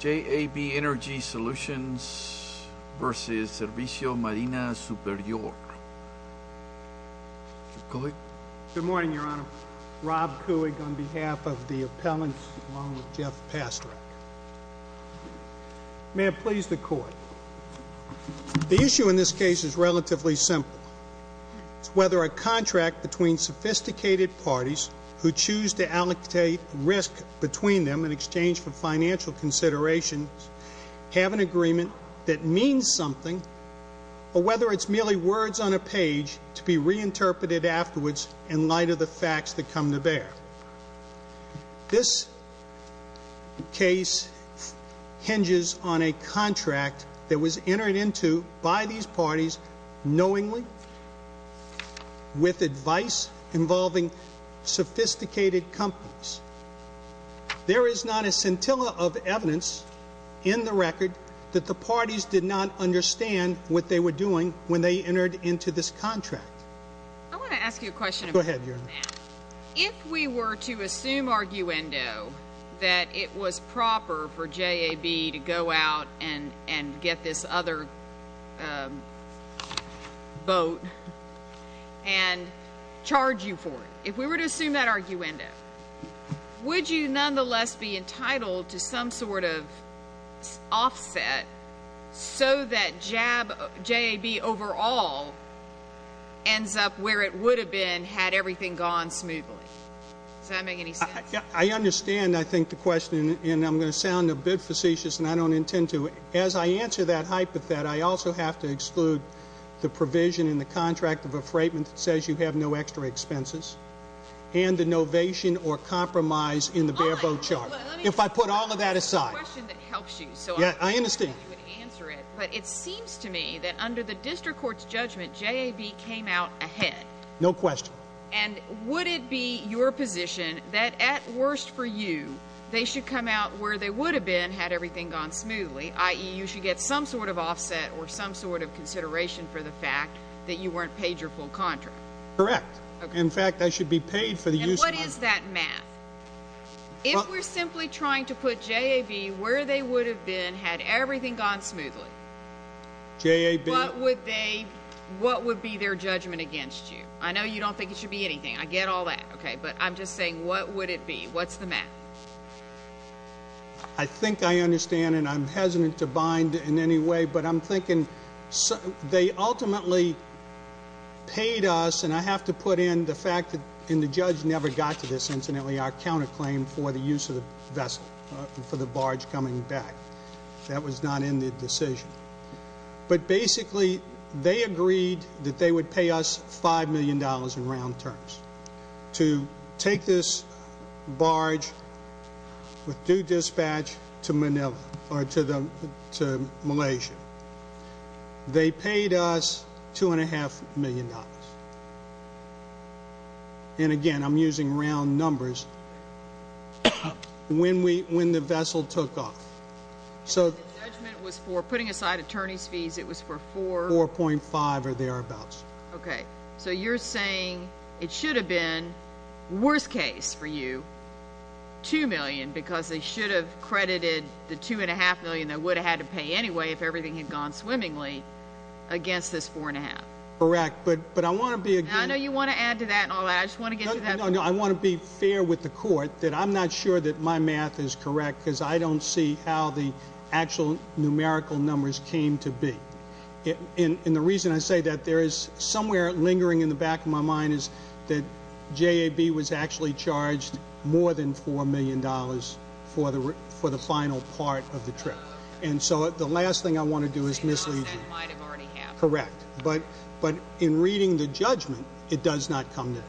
JAB Energy Solutions v. Servicio Marina Superior. Good morning, Your Honor. Rob Kuig on behalf of the appellants along with Jeff Pastrak. May it please the Court. The issue in this case is relatively simple. It's whether a contract between sophisticated parties who choose to allocate risk between them in exchange for financial considerations have an agreement that means something or whether it's merely words on a page to be reinterpreted afterwards in light of the facts that come to bear. This case hinges on a contract that was entered into by these parties knowingly with advice involving sophisticated companies. There is not a scintilla of evidence in the record that the parties did not understand what they were doing when they entered into this contract. I want to ask you a question about that. Go ahead, Your Honor. If we were to assume arguendo that it was proper for JAB to go out and get this other boat and charge you for it, if we were to assume that arguendo, would you nonetheless be entitled to some sort of offset so that JAB overall ends up where it would have been had everything gone smoothly? Does that make any sense? I understand, I think, the question and I'm going to sound a bit facetious and I don't intend to. As I answer that hypothet, I also have to exclude the provision in the contract of a freightment that says you have no extra expenses and the novation or compromise in the bare boat charge. If I put all of that aside. I understand. But it seems to me that under the district court's judgment, JAB came out ahead. No question. And would it be your position that at worst for you, they should come out where they would have been had everything gone smoothly, i.e. you should get some sort of offset or some sort of consideration for the fact that you weren't paid your full contract? Correct. In fact, I should be paid for the use of my... And what is that math? If we're simply trying to put JAB where they would have been had everything gone smoothly, what would be their judgment against you? I know you don't think it should be anything. I get all that. But I'm just saying, what would it be? What's the math? I think I understand, and I'm hesitant to bind in any way, but I'm thinking they ultimately paid us, and I have to put in the fact that, and the judge never got to this incidentally, our counterclaim for the use of the vessel for the barge coming back. That was not in the decision. But basically, they agreed that they would pay us $5 million in round terms to take this barge with due dispatch to Malaysia. They paid us $2.5 million. And again, I'm using round numbers, when the vessel took off. The judgment was for, putting aside attorney's fees, it was for $4.5 or thereabouts. Okay. So you're saying it should have been, worst case for you, $2 million, because they should have credited the $2.5 million they would have had to pay anyway if everything had gone swimmingly, against this $4.5. Correct, but I want to be... I know you want to add to that and all that. I just want to get you that... No, I want to be fair with the court that I'm not sure that my math is correct because I don't see how the actual numerical numbers came to be. And the reason I say that, there is somewhere lingering in the back of my mind is that JAB was actually charged more than $4 million for the final part of the trip. And so the last thing I want to do is mislead you. Because that might have already happened. Correct. But in reading the judgment, it does not come there.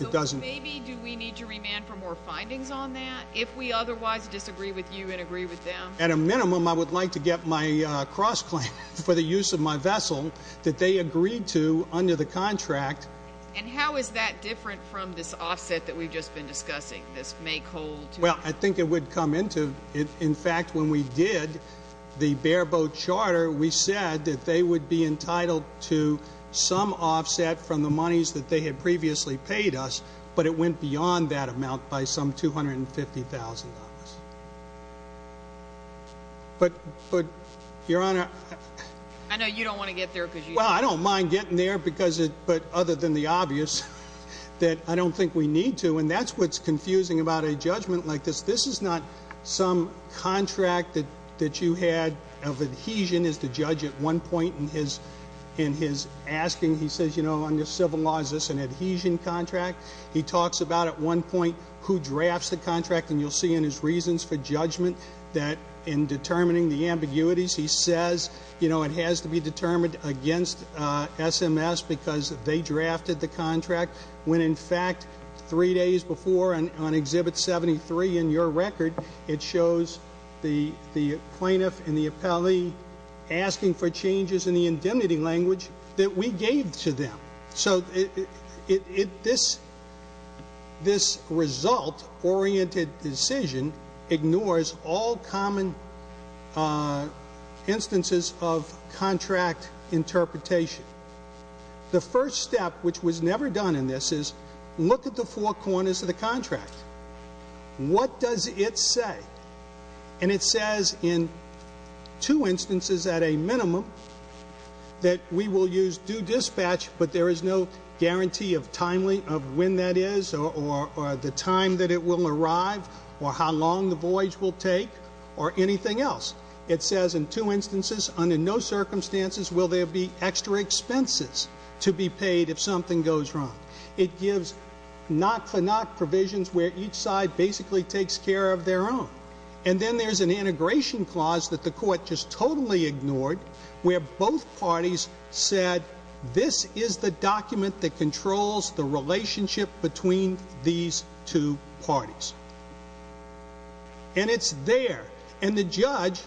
So maybe do we need to remand for more findings on that? If we otherwise disagree with you and agree with them? At a minimum, I would like to get my cross-claim for the use of my vessel that they agreed to under the contract. And how is that different from this offset that we've just been discussing? This make-hold? Well, I think it would come into... In fact, when we did the bare-boat charter, we said that they would be entitled to some offset from the monies that they had previously paid us, but it went beyond that amount by some $250,000. But, Your Honor... I know you don't want to get there because you... Well, I don't mind getting there, but other than the obvious, that I don't think we need to. And that's what's confusing about a judgment like this. This is not some contract that you had of adhesion, as the judge at one point in his asking, he says, you know, under civil law, this is an adhesion contract. He talks about, at one point, who drafts the contract, and you'll see in his reasons for judgment that in determining the ambiguities, he says, you know, it has to be determined against SMS because they drafted the contract, when, in fact, three days before, on Exhibit 73 in your record, it shows the plaintiff and the appellee asking for changes in the indemnity language that we gave to them. So this result-oriented decision ignores all common instances of contract interpretation. The first step, which was never done in this, is look at the four corners of the contract. What does it say? And it says in two instances at a minimum that we will use due dispatch, but there is no guarantee of when that is or the time that it will arrive or how long the voyage will take or anything else. It says in two instances, under no circumstances will there be extra expenses to be paid if something goes wrong. It gives knock-for-knock provisions where each side basically takes care of their own. And then there's an integration clause that the court just totally ignored where both parties said, this is the document that controls the relationship between these two parties. And it's there. And the judge...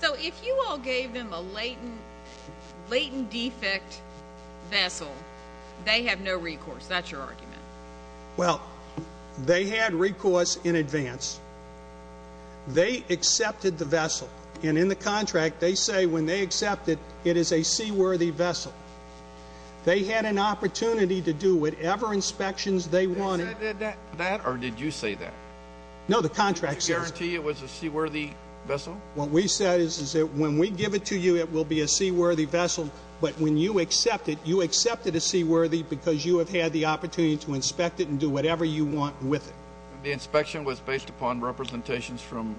So if you all gave them a latent defect vessel, they have no recourse. That's your argument. Well, they had recourse in advance. They accepted the vessel. And in the contract, they say when they accept it, it is a seaworthy vessel. They had an opportunity to do whatever inspections they wanted. They said that, or did you say that? No, the contract says... Did you guarantee it was a seaworthy vessel? What we said is that when we give it to you, it will be a seaworthy vessel. But when you accept it, you accept it as seaworthy because you have had the opportunity to inspect it and do whatever you want with it. The inspection was based upon representations from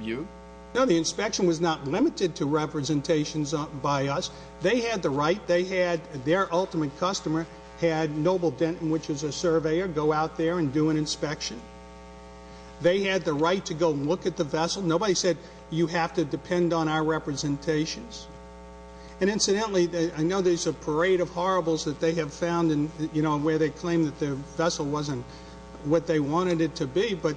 you? No, the inspection was not limited to representations by us. They had the right. Their ultimate customer had Noble Denton, which is a surveyor, go out there and do an inspection. They had the right to go look at the vessel. Nobody said, you have to depend on our representations. And incidentally, I know there's a parade of horribles that they have found where they claim that the vessel wasn't what they wanted it to be, but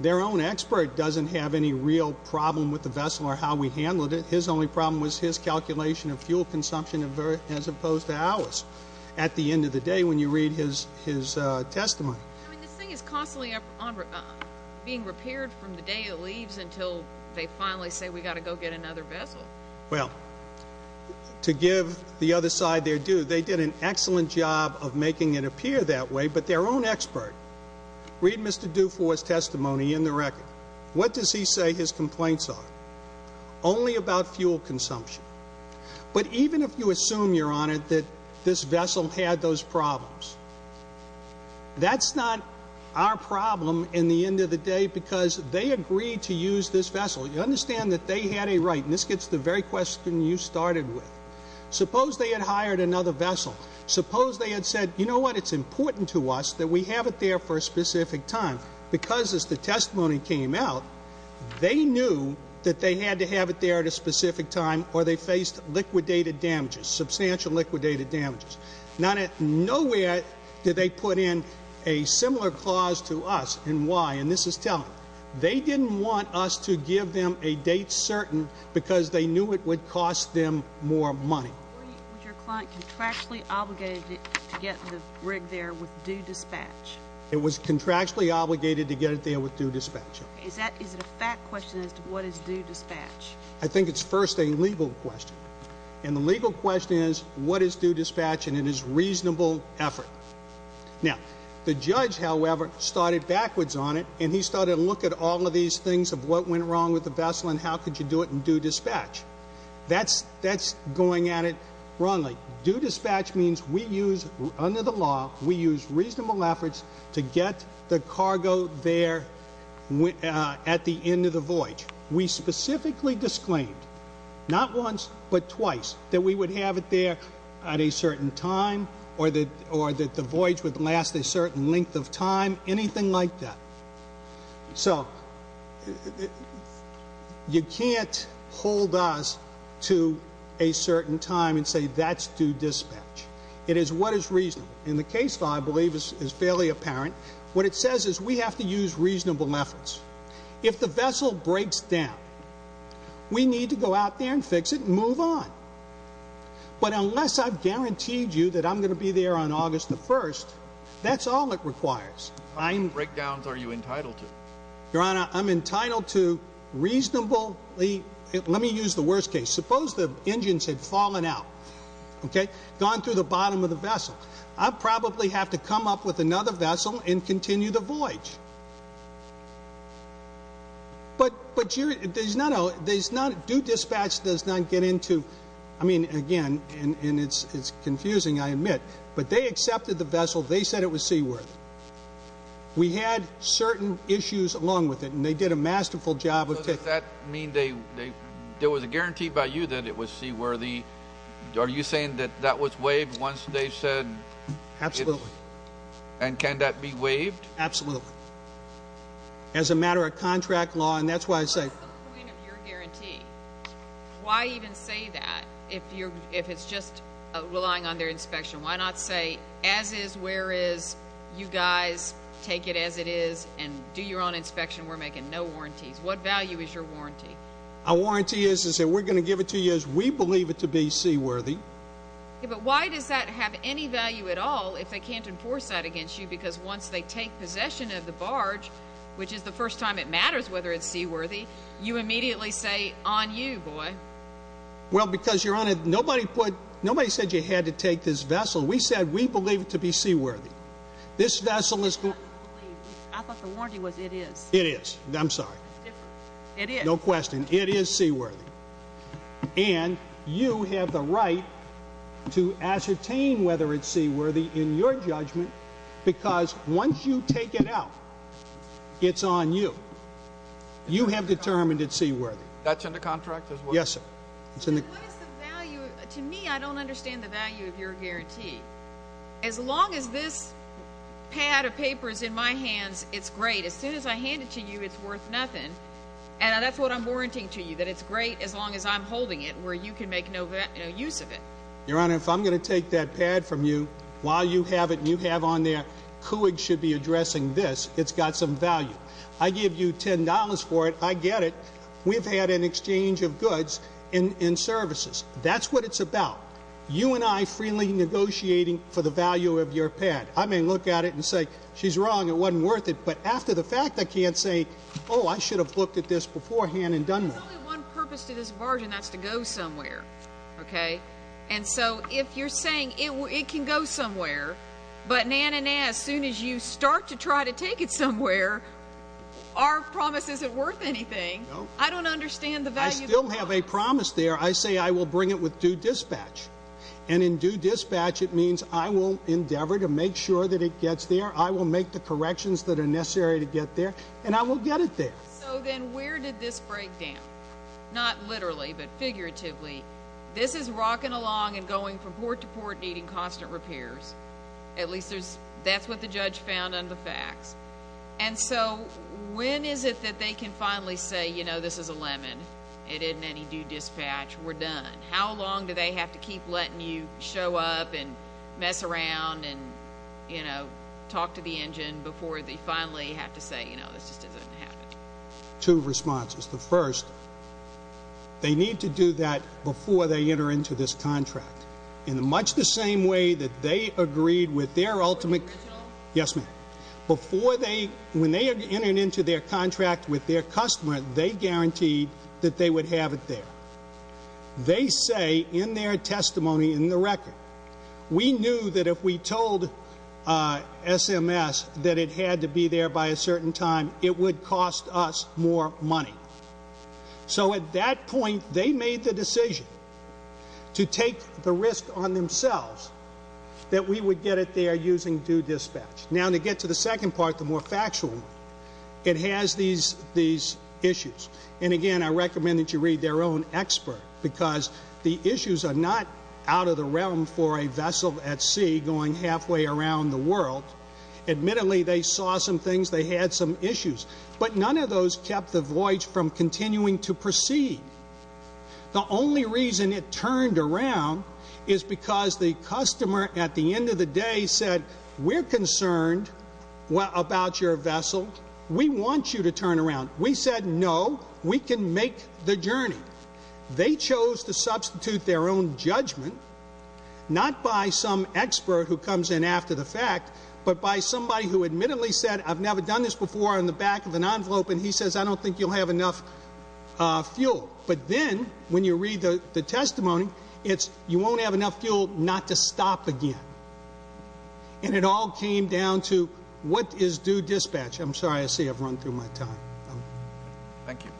their own expert doesn't have any real problem with the vessel or how we handled it. His only problem was his calculation of fuel consumption as opposed to ours. At the end of the day, when you read his testimony... I mean, this thing is constantly being repaired from the day it leaves until they finally say, we've got to go get another vessel. Well, to give the other side their due, they did an excellent job of making it appear that way, but their own expert... I mean, look at the Air Force testimony in the record. What does he say his complaints are? Only about fuel consumption. But even if you assume, Your Honor, that this vessel had those problems, that's not our problem in the end of the day because they agreed to use this vessel. You understand that they had a right, and this gets to the very question you started with. Suppose they had hired another vessel. Suppose they had said, you know what, it's important to us that we have it there for a specific time because as the testimony came out, they knew that they had to have it there at a specific time or they faced liquidated damages, substantial liquidated damages. Nowhere did they put in a similar clause to us in why, and this is telling. They didn't want us to give them a date certain because they knew it would cost them more money. Why was your client contractually obligated to get the rig there with due dispatch? It was contractually obligated to get it there with due dispatch. Is it a fact question as to what is due dispatch? I think it's first a legal question, and the legal question is what is due dispatch, and it is reasonable effort. Now, the judge, however, started backwards on it, and he started to look at all of these things of what went wrong with the vessel and how could you do it in due dispatch. That's going at it wrongly. Due dispatch means we use, under the law, we use reasonable efforts to get the cargo there at the end of the voyage. We specifically disclaimed, not once but twice, that we would have it there at a certain time or that the voyage would last a certain length of time, anything like that. So you can't hold us to a certain time and say that's due dispatch. It is what is reasonable, and the case law, I believe, is fairly apparent. What it says is we have to use reasonable efforts. If the vessel breaks down, we need to go out there and fix it and move on. But unless I've guaranteed you that I'm going to be there on August the 1st, that's all it requires. How many breakdowns are you entitled to? Your Honor, I'm entitled to reasonably, let me use the worst case. Suppose the engines had fallen out, gone through the bottom of the vessel. I'd probably have to come up with another vessel and continue the voyage. But due dispatch does not get into, I mean, again, and it's confusing, I admit, but they accepted the vessel. They said it was seaworthy. We had certain issues along with it, and they did a masterful job of taking it. So does that mean there was a guarantee by you that it was seaworthy? Are you saying that that was waived once they said it was? Absolutely. And can that be waived? Absolutely. As a matter of contract law, and that's why I say. What's the point of your guarantee? Why even say that if it's just relying on their inspection? Why not say, as is, where is. You guys take it as it is and do your own inspection. We're making no warranties. What value is your warranty? Our warranty is that we're going to give it to you as we believe it to be seaworthy. But why does that have any value at all if they can't enforce that against you because once they take possession of the barge, which is the first time it matters whether it's seaworthy, you immediately say, on you, boy. Well, because, Your Honor, nobody said you had to take this vessel. We said we believe it to be seaworthy. I thought the warranty was it is. It is. I'm sorry. It is. No question. It is seaworthy. And you have the right to ascertain whether it's seaworthy in your judgment because once you take it out, it's on you. You have determined it's seaworthy. That's in the contract as well? Yes, sir. What is the value? To me, I don't understand the value of your guarantee. As long as this pad of paper is in my hands, it's great. As soon as I hand it to you, it's worth nothing. And that's what I'm warranting to you, that it's great as long as I'm holding it, where you can make no use of it. Your Honor, if I'm going to take that pad from you, while you have it and you have on there, it's got some value. I give you $10 for it, I get it. We've had an exchange of goods and services. That's what it's about. You and I freely negotiating for the value of your pad. I may look at it and say, she's wrong, it wasn't worth it. But after the fact, I can't say, oh, I should have looked at this beforehand and done that. There's only one purpose to this bargain, and that's to go somewhere. And so if you're saying it can go somewhere, but nah, nah, nah, as soon as you start to try to take it somewhere, our promise isn't worth anything. I don't understand the value of the promise. I still have a promise there. I say I will bring it with due dispatch. And in due dispatch, it means I will endeavor to make sure that it gets there, I will make the corrections that are necessary to get there, and I will get it there. So then where did this break down? Not literally, but figuratively. This is rocking along and going from port to port needing constant repairs. At least that's what the judge found in the facts. And so when is it that they can finally say, you know, this is a lemon, it isn't any due dispatch, we're done? How long do they have to keep letting you show up and mess around and, you know, talk to the engine before they finally have to say, you know, this just isn't going to happen? Two responses. The first, they need to do that before they enter into this contract. In much the same way that they agreed with their ultimate ‑‑ Yes, ma'am. When they entered into their contract with their customer, they guaranteed that they would have it there. They say in their testimony in the record, we knew that if we told SMS that it had to be there by a certain time, it would cost us more money. So at that point, they made the decision to take the risk on themselves that we would get it there using due dispatch. Now, to get to the second part, the more factual one, it has these issues. And, again, I recommend that you read their own expert because the issues are not out of the realm for a vessel at sea going halfway around the world. Admittedly, they saw some things, they had some issues, but none of those kept the voyage from continuing to proceed. The only reason it turned around is because the customer, at the end of the day, said, we're concerned about your vessel. We want you to turn around. We said, no, we can make the journey. They chose to substitute their own judgment, not by some expert who comes in after the fact, but by somebody who admittedly said, I've never done this before, on the back of an envelope, and he says, I don't think you'll have enough fuel. But then, when you read the testimony, it's, you won't have enough fuel not to stop again. And it all came down to what is due dispatch. I'm sorry, I see I've run through my time. Thank you.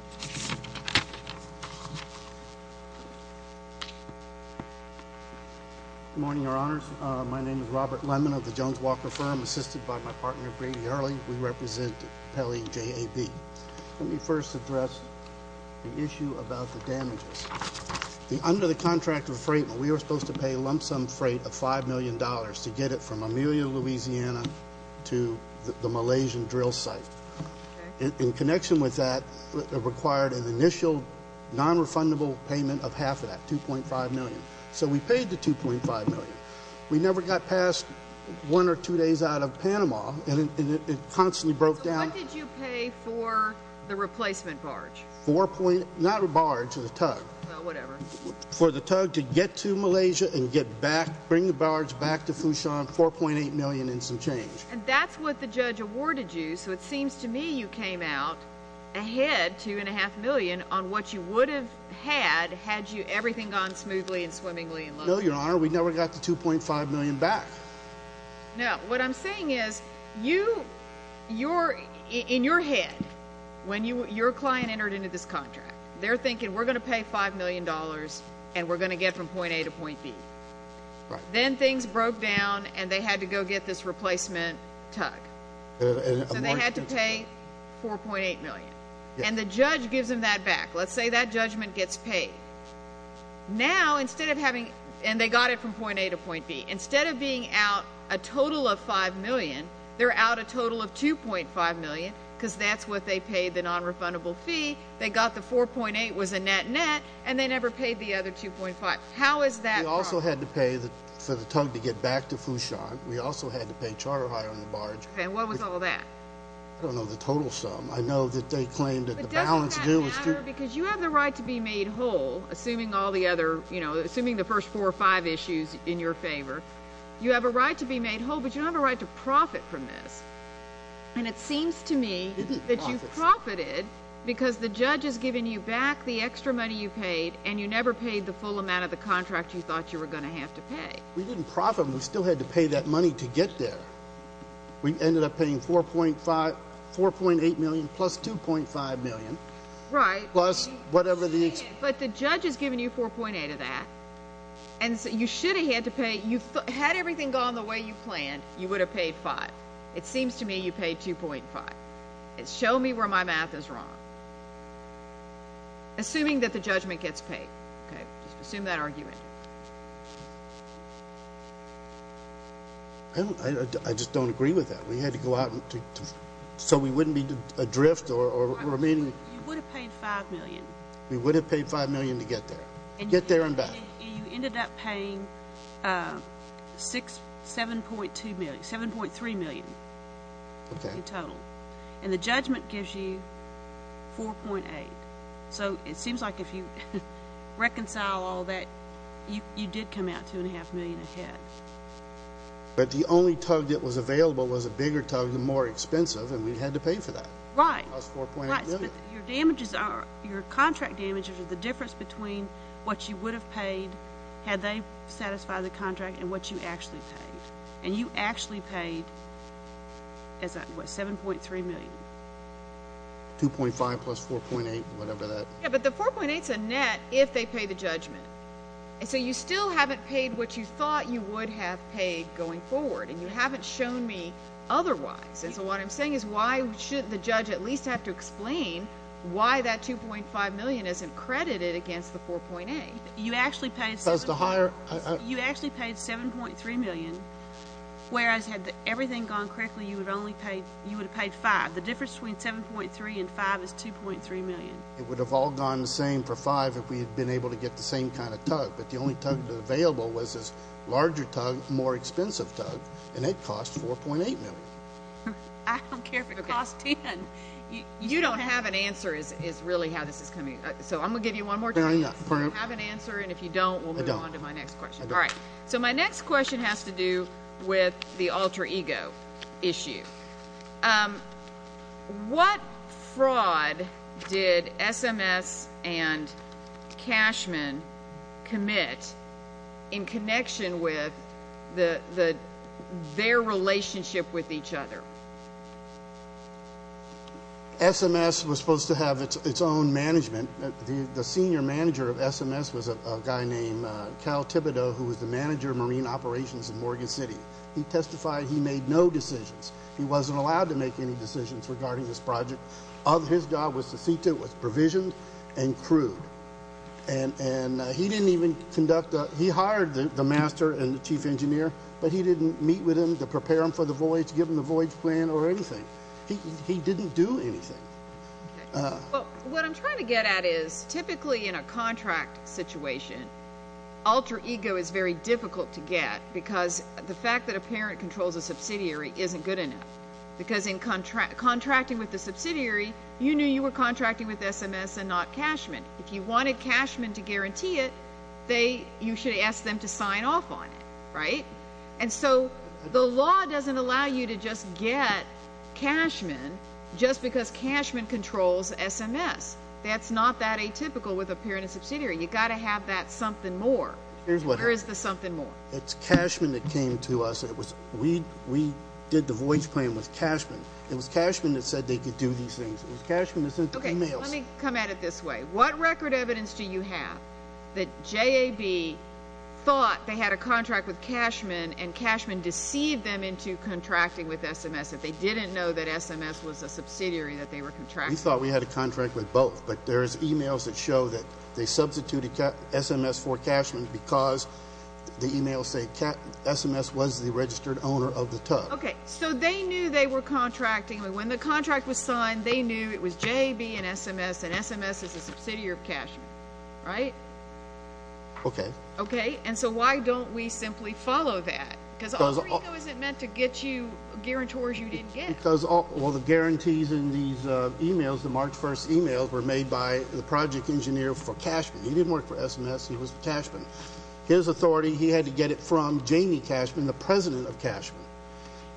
Good morning, Your Honors. My name is Robert Lemon of the Jones-Walker Firm, assisted by my partner, Brady Early. We represent Pele JAB. Let me first address the issue about the damages. Under the contract of freight, we were supposed to pay lump sum freight of $5 million to get it from Amelia, Louisiana, to the Malaysian drill site. In connection with that, it required an initial non-refundable payment of half of that, $2.5 million. So we paid the $2.5 million. We never got past one or two days out of Panama, and it constantly broke down. So what did you pay for the replacement barge? Four point, not barge, the tug. Well, whatever. For the tug to get to Malaysia and get back, bring the barge back to Fushun, $4.8 million and some change. And that's what the judge awarded you, so it seems to me you came out ahead, $2.5 million, on what you would have had, had everything gone smoothly and swimmingly. No, Your Honor, we never got the $2.5 million back. No, what I'm saying is, in your head, when your client entered into this contract, they're thinking, we're going to pay $5 million, and we're going to get from point A to point B. Then things broke down, and they had to go get this replacement tug. So they had to pay $4.8 million. And the judge gives them that back. Let's say that judgment gets paid. Now, instead of having, and they got it from point A to point B, instead of being out a total of $5 million, they're out a total of $2.5 million, because that's what they paid, the nonrefundable fee. They got the $4.8 was a net-net, and they never paid the other $2.5. How is that? We also had to pay for the tug to get back to Fushun. We also had to pay charter hire on the barge. And what was all that? I don't know the total sum. I know that they claimed that the balance due was $2. But doesn't that matter? Because you have the right to be made whole, assuming all the other, you know, assuming the first four or five issues in your favor. You have a right to be made whole, but you don't have a right to profit from this. And it seems to me that you profited because the judge is giving you back the extra money you paid, and you never paid the full amount of the contract you thought you were going to have to pay. We didn't profit. We still had to pay that money to get there. We ended up paying $4.8 million plus $2.5 million. Right. Plus whatever the extra. But the judge is giving you $4.8 of that. And you should have had to pay. Had everything gone the way you planned, you would have paid $5. It seems to me you paid $2.5. Show me where my math is wrong. Assuming that the judgment gets paid. Okay. Assume that argument. I just don't agree with that. We had to go out so we wouldn't be adrift or remaining. You would have paid $5 million. We would have paid $5 million to get there. Get there and back. And you ended up paying $7.3 million in total. Okay. And the judgment gives you $4.8. So it seems like if you reconcile all that, you did come out $2.5 million ahead. But the only tug that was available was a bigger tug and more expensive, and we had to pay for that. Right. Plus $4.8 million. Right. But your contract damages are the difference between what you would have paid had they satisfied the contract and what you actually paid. And you actually paid, what, $7.3 million. $2.5 plus $4.8, whatever that is. Yeah, but the $4.8 is a net if they pay the judgment. So you still haven't paid what you thought you would have paid going forward, and you haven't shown me otherwise. And so what I'm saying is why shouldn't the judge at least have to explain why that $2.5 million isn't credited against the $4.8? You actually paid $7.3 million. Whereas had everything gone correctly, you would have paid $5. The difference between $7.3 and $5 is $2.3 million. It would have all gone the same for $5 if we had been able to get the same kind of tug. But the only tug available was this larger tug, more expensive tug, and it cost $4.8 million. I don't care if it cost $10. You don't have an answer is really how this is coming. So I'm going to give you one more chance. No, I'm not. You have an answer, and if you don't, we'll move on to my next question. I don't. All right. So my next question has to do with the alter ego issue. What fraud did SMS and Cashman commit in connection with their relationship with each other? SMS was supposed to have its own management. The senior manager of SMS was a guy named Cal Thibodeau, who was the manager of marine operations in Morgan City. He testified he made no decisions. He wasn't allowed to make any decisions regarding this project. His job was to see to it was provisioned and crewed. And he didn't even conduct a – he hired the master and the chief engineer, but he didn't meet with him to prepare him for the voyage, give him the voyage plan or anything. He didn't do anything. Well, what I'm trying to get at is typically in a contract situation, alter ego is very difficult to get because the fact that a parent controls a subsidiary isn't good enough because in contracting with the subsidiary, you knew you were contracting with SMS and not Cashman. If you wanted Cashman to guarantee it, you should have asked them to sign off on it, right? And so the law doesn't allow you to just get Cashman just because Cashman controls SMS. That's not that atypical with a parent and subsidiary. You've got to have that something more. Where is the something more? It's Cashman that came to us. We did the voyage plan with Cashman. It was Cashman that said they could do these things. It was Cashman that sent the emails. Okay, so let me come at it this way. What record evidence do you have that JAB thought they had a contract with Cashman and Cashman deceived them into contracting with SMS if they didn't know that SMS was a subsidiary that they were contracting with? We thought we had a contract with both, but there's emails that show that they substituted SMS for Cashman because the emails say SMS was the registered owner of the tug. Okay, so they knew they were contracting. When the contract was signed, they knew it was JAB and SMS, and SMS is a subsidiary of Cashman, right? Okay. Okay, and so why don't we simply follow that? Because all we know is it meant to get you guarantors you didn't get. Well, the guarantees in these emails, the March 1st emails, were made by the project engineer for Cashman. He didn't work for SMS. He was for Cashman. His authority, he had to get it from Jamie Cashman, the president of Cashman.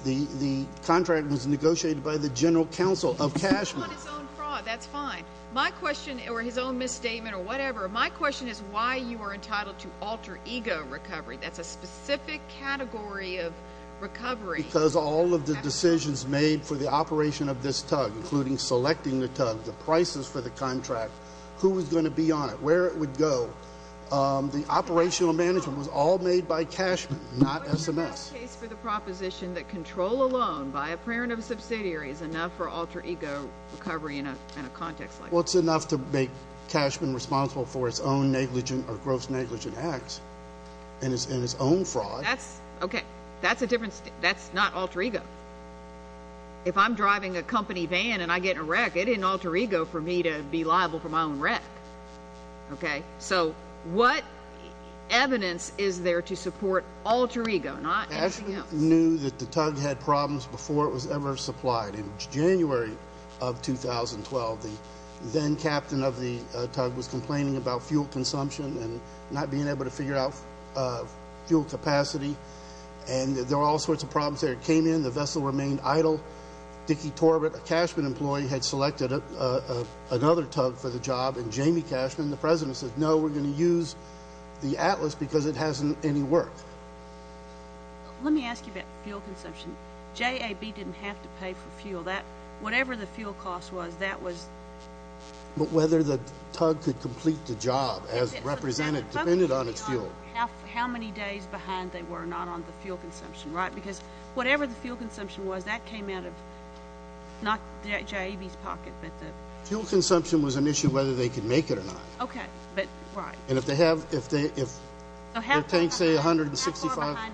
The contract was negotiated by the general counsel of Cashman. He's on his own fraud. That's fine. My question, or his own misstatement or whatever, my question is why you are entitled to alter ego recovery. That's a specific category of recovery. Because all of the decisions made for the operation of this tug, including selecting the tug, the prices for the contract, who was going to be on it, where it would go, the operational management was all made by Cashman, not SMS. It's not the case for the proposition that control alone by a parent of a subsidiary is enough for alter ego recovery in a context like this. Well, it's enough to make Cashman responsible for his own negligent or gross negligent acts and his own fraud. Okay, that's not alter ego. If I'm driving a company van and I get in a wreck, it didn't alter ego for me to be liable for my own wreck. Okay, so what evidence is there to support alter ego? Cashman knew that the tug had problems before it was ever supplied. In January of 2012, the then-captain of the tug was complaining about fuel consumption and not being able to figure out fuel capacity, and there were all sorts of problems there. It came in, the vessel remained idle. Dickie Torbett, a Cashman employee, had selected another tug for the job, and Jamie Cashman, the president, said, no, we're going to use the Atlas because it hasn't any work. Let me ask you about fuel consumption. JAB didn't have to pay for fuel. Whatever the fuel cost was, that was... But whether the tug could complete the job as represented depended on its fuel. How many days behind they were not on the fuel consumption, right? Because whatever the fuel consumption was, that came out of not JAB's pocket, but the... The fuel consumption was an issue whether they could make it or not. Okay, but, right. And if they have, if their tanks say 165... How far behind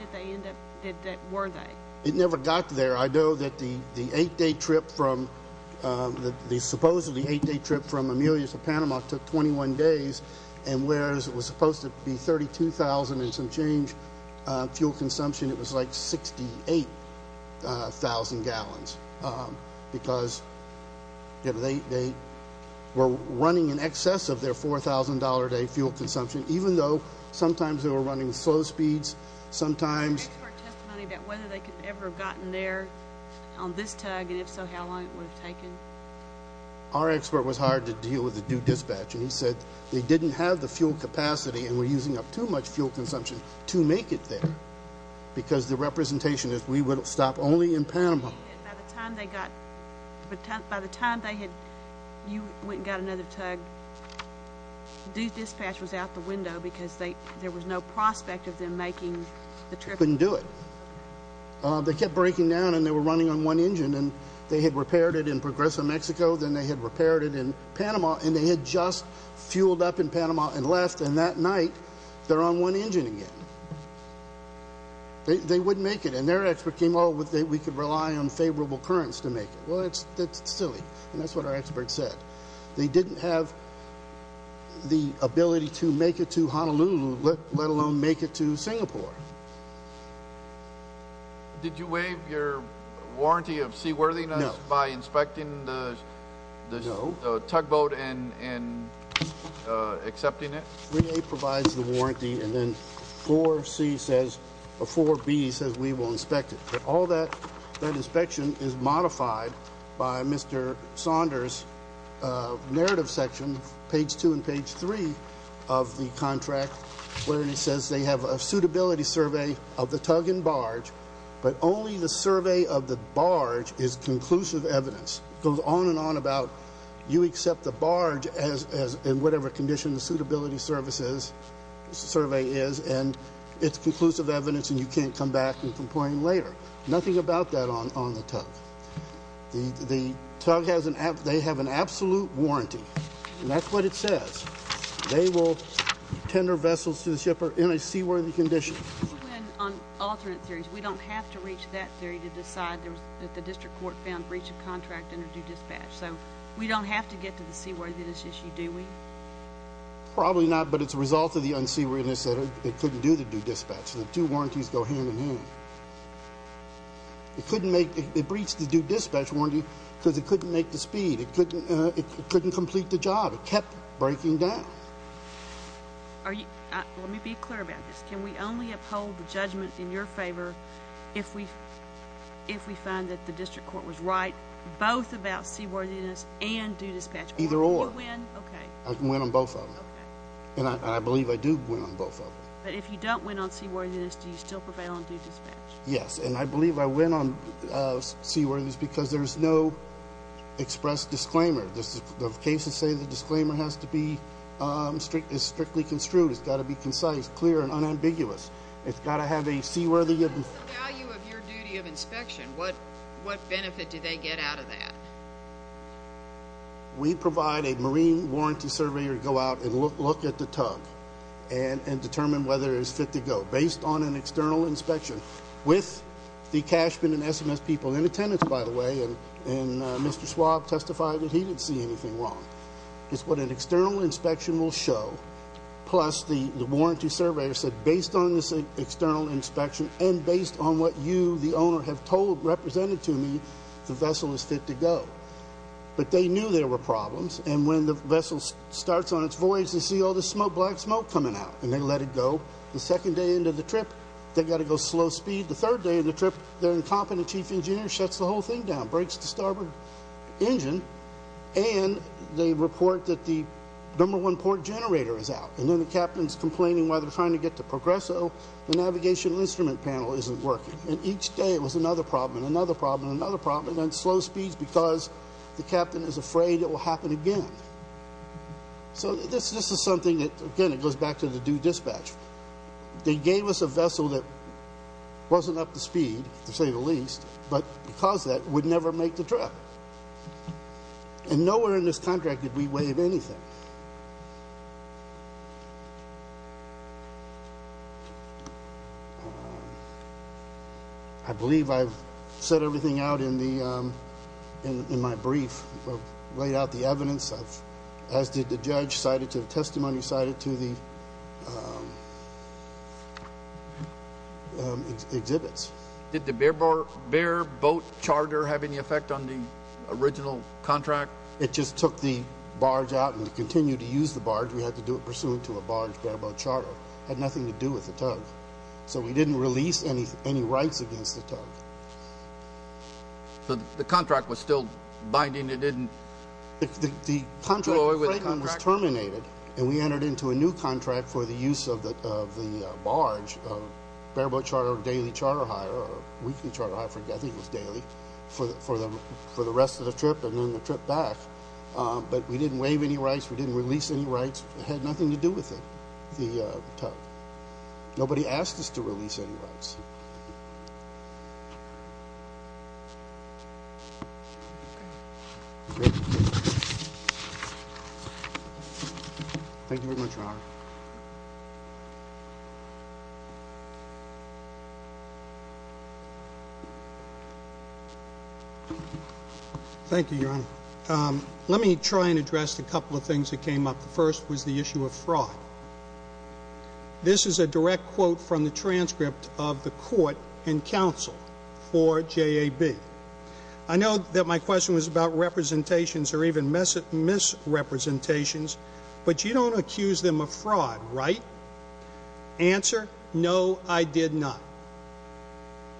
were they? It never got there. I know that the eight-day trip from, the supposedly eight-day trip from Amelia to Panama took 21 days, and whereas it was supposed to be 32,000 and some change fuel consumption, it was like 68,000 gallons, because they were running in excess of their $4,000-a-day fuel consumption, even though sometimes they were running slow speeds, sometimes... Any expert testimony about whether they could ever have gotten there on this tug, and if so, how long it would have taken? Our expert was hired to deal with the due dispatch, and he said they didn't have the fuel capacity and were using up too much fuel consumption to make it there, because the representation is we would stop only in Panama. By the time they got, by the time they had, you went and got another tug, due dispatch was out the window, because there was no prospect of them making the trip. Couldn't do it. They kept breaking down, and they were running on one engine, and they had repaired it in Progreso, Mexico, then they had repaired it in Panama, and they had just fueled up in Panama and left, and that night they're on one engine again. They wouldn't make it, and their expert came out with that we could rely on favorable currents to make it. Well, that's silly, and that's what our expert said. They didn't have the ability to make it to Honolulu, let alone make it to Singapore. Did you waive your warranty of seaworthiness by inspecting the tugboat and accepting it? 3A provides the warranty, and then 4B says we will inspect it. All that inspection is modified by Mr. Saunders' narrative section, page 2 and page 3 of the contract, where he says they have a suitability survey of the tug and barge, but only the survey of the barge is conclusive evidence. It goes on and on about you accept the barge in whatever condition, whatever condition the suitability survey is, and it's conclusive evidence and you can't come back and complain later. Nothing about that on the tug. The tug has an absolute warranty, and that's what it says. They will tender vessels to the shipper in a seaworthy condition. On alternate theories, we don't have to reach that theory to decide that the district court found breach of contract under due dispatch, so we don't have to get to the seaworthiness issue, do we? Probably not, but it's a result of the unseaworthiness that it couldn't do the due dispatch. The two warranties go hand in hand. It breached the due dispatch warranty because it couldn't make the speed. It couldn't complete the job. It kept breaking down. Let me be clear about this. Can we only uphold the judgment in your favor if we find that the district court was right both about seaworthiness and due dispatch? Either or. You win? Okay. I can win on both of them, and I believe I do win on both of them. But if you don't win on seaworthiness, do you still prevail on due dispatch? Yes, and I believe I win on seaworthiness because there's no express disclaimer. The cases say the disclaimer has to be strictly construed. It's got to be concise, clear, and unambiguous. It's got to have a seaworthiness. What is the value of your duty of inspection? What benefit do they get out of that? We provide a marine warranty surveyor to go out and look at the tug and determine whether it's fit to go based on an external inspection with the cashman and SMS people in attendance, by the way, and Mr. Schwab testified that he didn't see anything wrong. It's what an external inspection will show, plus the warranty surveyor said based on this external inspection and based on what you, the owner, have told, represented to me, the vessel is fit to go. But they knew there were problems, and when the vessel starts on its voyage they see all this black smoke coming out, and they let it go. The second day into the trip they've got to go slow speed. The third day of the trip their incompetent chief engineer shuts the whole thing down, breaks the starboard engine, and they report that the number one port generator is out, and then the captain's complaining why they're trying to get to Progresso. The navigational instrument panel isn't working, and each day it was another problem and another problem and another problem, and then slow speeds because the captain is afraid it will happen again. So this is something that, again, it goes back to the due dispatch. They gave us a vessel that wasn't up to speed, to say the least, but because of that would never make the trip. And nowhere in this contract did we waive anything. I believe I've said everything out in my brief, laid out the evidence, as did the judge, cited to the testimony, cited to the exhibits. Did the bare boat charter have any effect on the original contract? It just took the barge out, and to continue to use the barge, we had to do it pursuant to a barge bare boat charter. It had nothing to do with the tug. So we didn't release any rights against the tug. So the contract was still binding? The contract was terminated, and we entered into a new contract for the use of the barge, bare boat charter, daily charter hire, or weekly charter hire, I think it was daily, for the rest of the trip and then the trip back. But we didn't waive any rights. We didn't release any rights. It had nothing to do with it, the tug. Nobody asked us to release any rights. Thank you very much, Your Honor. Thank you, Your Honor. Let me try and address a couple of things that came up. This is a direct quote from the transcript of the court and counsel for JAB. I know that my question was about representations or even misrepresentations, but you don't accuse them of fraud, right? Answer, no, I did not.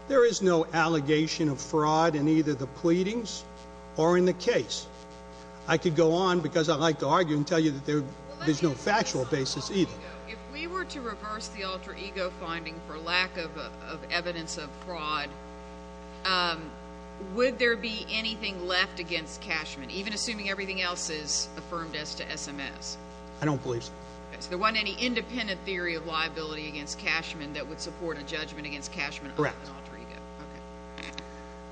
There is no allegation of fraud in either the pleadings or in the case. I could go on, because I'd like to argue and tell you that there's no factual basis either. If we were to reverse the alter ego finding for lack of evidence of fraud, would there be anything left against Cashman, even assuming everything else is affirmed as to SMS? I don't believe so. So there wasn't any independent theory of liability against Cashman Correct.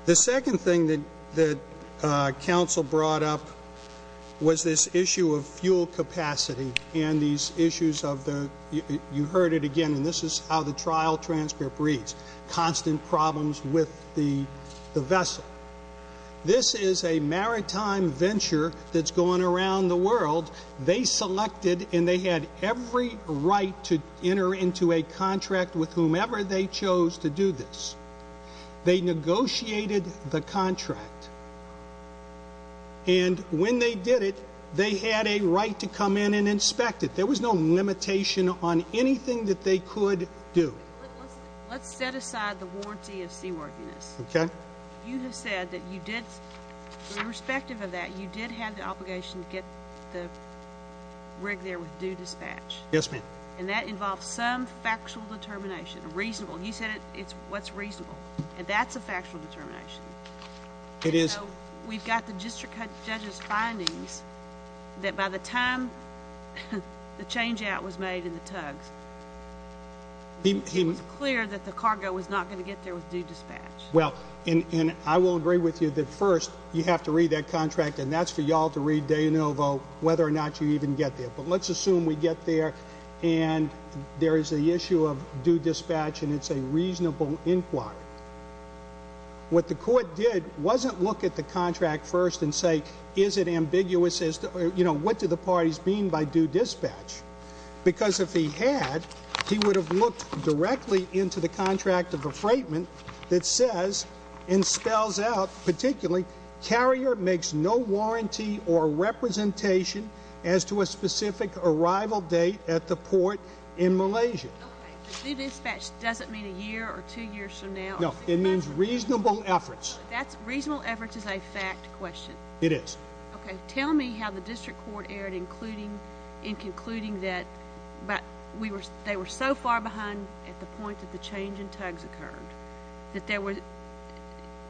The second thing that counsel brought up was this issue of fuel capacity and these issues of the, you heard it again, and this is how the trial transcript reads, constant problems with the vessel. This is a maritime venture that's going around the world. They selected, and they had every right to enter into a contract with whomever they chose to do this. They negotiated the contract, and when they did it, they had a right to come in and inspect it. There was no limitation on anything that they could do. Let's set aside the warranty of seaworthiness. Okay. You have said that you did, irrespective of that, you did have the obligation to get the rig there with due dispatch. Yes, ma'am. And that involves some factual determination, reasonable. You said it's what's reasonable, and that's a factual determination. It is. So we've got the district judge's findings that by the time the changeout was made in the tugs, it was clear that the cargo was not going to get there with due dispatch. Well, and I will agree with you that, first, you have to read that contract, and that's for you all to read de novo whether or not you even get there. But let's assume we get there, and there is the issue of due dispatch, and it's a reasonable inquiry. What the court did wasn't look at the contract first and say, is it ambiguous as to, you know, what do the parties mean by due dispatch? Because if he had, he would have looked directly into the contract of a freightman that says, and spells out particularly, carrier makes no warranty or representation as to a specific arrival date at the port in Malaysia. Okay. Due dispatch doesn't mean a year or two years from now. No. It means reasonable efforts. Reasonable efforts is a fact question. It is. Okay. Tell me how the district court erred in concluding that they were so far behind at the point that the change in tugs occurred, that there were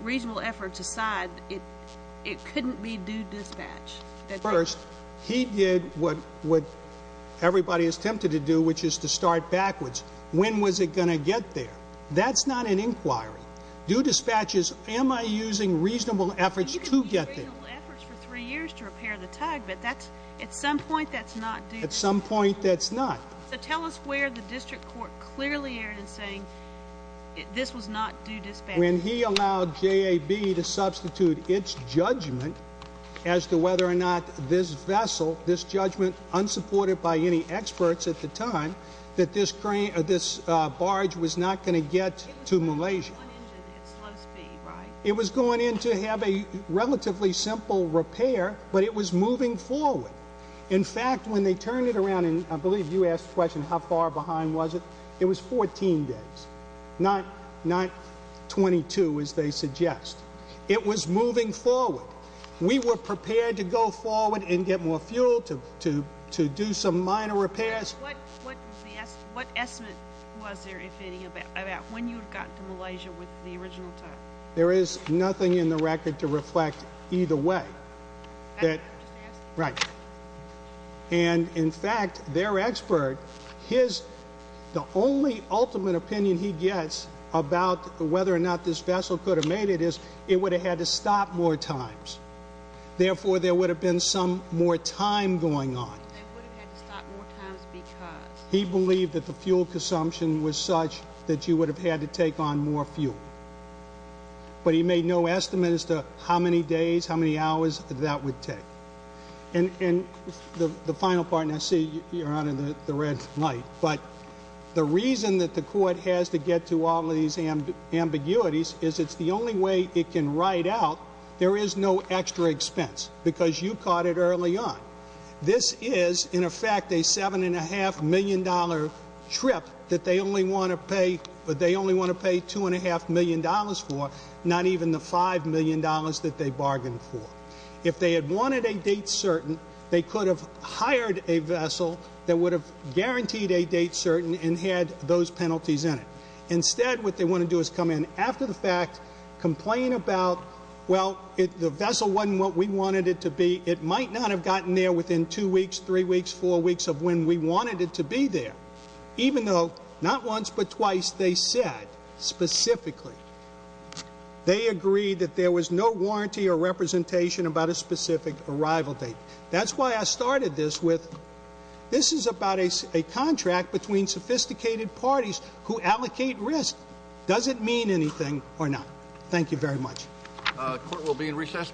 reasonable efforts aside, it couldn't be due dispatch. First, he did what everybody is tempted to do, which is to start backwards. When was it going to get there? That's not an inquiry. Due dispatch is, am I using reasonable efforts to get there? You could use reasonable efforts for three years to repair the tug, but at some point that's not due. At some point that's not. So tell us where the district court clearly erred in saying this was not due dispatch. When he allowed JAB to substitute its judgment as to whether or not this vessel, this judgment unsupported by any experts at the time, that this barge was not going to get to Malaysia. It was going into it at slow speed, right? It was going in to have a relatively simple repair, but it was moving forward. In fact, when they turned it around, and I believe you asked the question how far behind was it, it was 14 days, not 22 as they suggest. It was moving forward. We were prepared to go forward and get more fuel to do some minor repairs. What estimate was there, if any, about when you got to Malaysia with the original tug? There is nothing in the record to reflect either way. Right. And, in fact, their expert, the only ultimate opinion he gets about whether or not this vessel could have made it is it would have had to stop more times. Therefore, there would have been some more time going on. They would have had to stop more times because? He believed that the fuel consumption was such that you would have had to take on more fuel. But he made no estimate as to how many days, how many hours that would take. And the final part, and I see, Your Honor, the red light, but the reason that the court has to get to all these ambiguities is it's the only way it can write out there is no extra expense because you caught it early on. This is, in effect, a $7.5 million trip that they only want to pay $2.5 million for, not even the $5 million that they bargained for. If they had wanted a date certain, they could have hired a vessel that would have guaranteed a date certain and had those penalties in it. Instead, what they want to do is come in after the fact, complain about, well, the vessel wasn't what we wanted it to be. It might not have gotten there within two weeks, three weeks, four weeks of when we wanted it to be there, even though not once but twice they said specifically. They agreed that there was no warranty or representation about a specific arrival date. That's why I started this with this is about a contract between sophisticated parties who allocate risk. Does it mean anything or not? Thank you very much. The court will be in recess.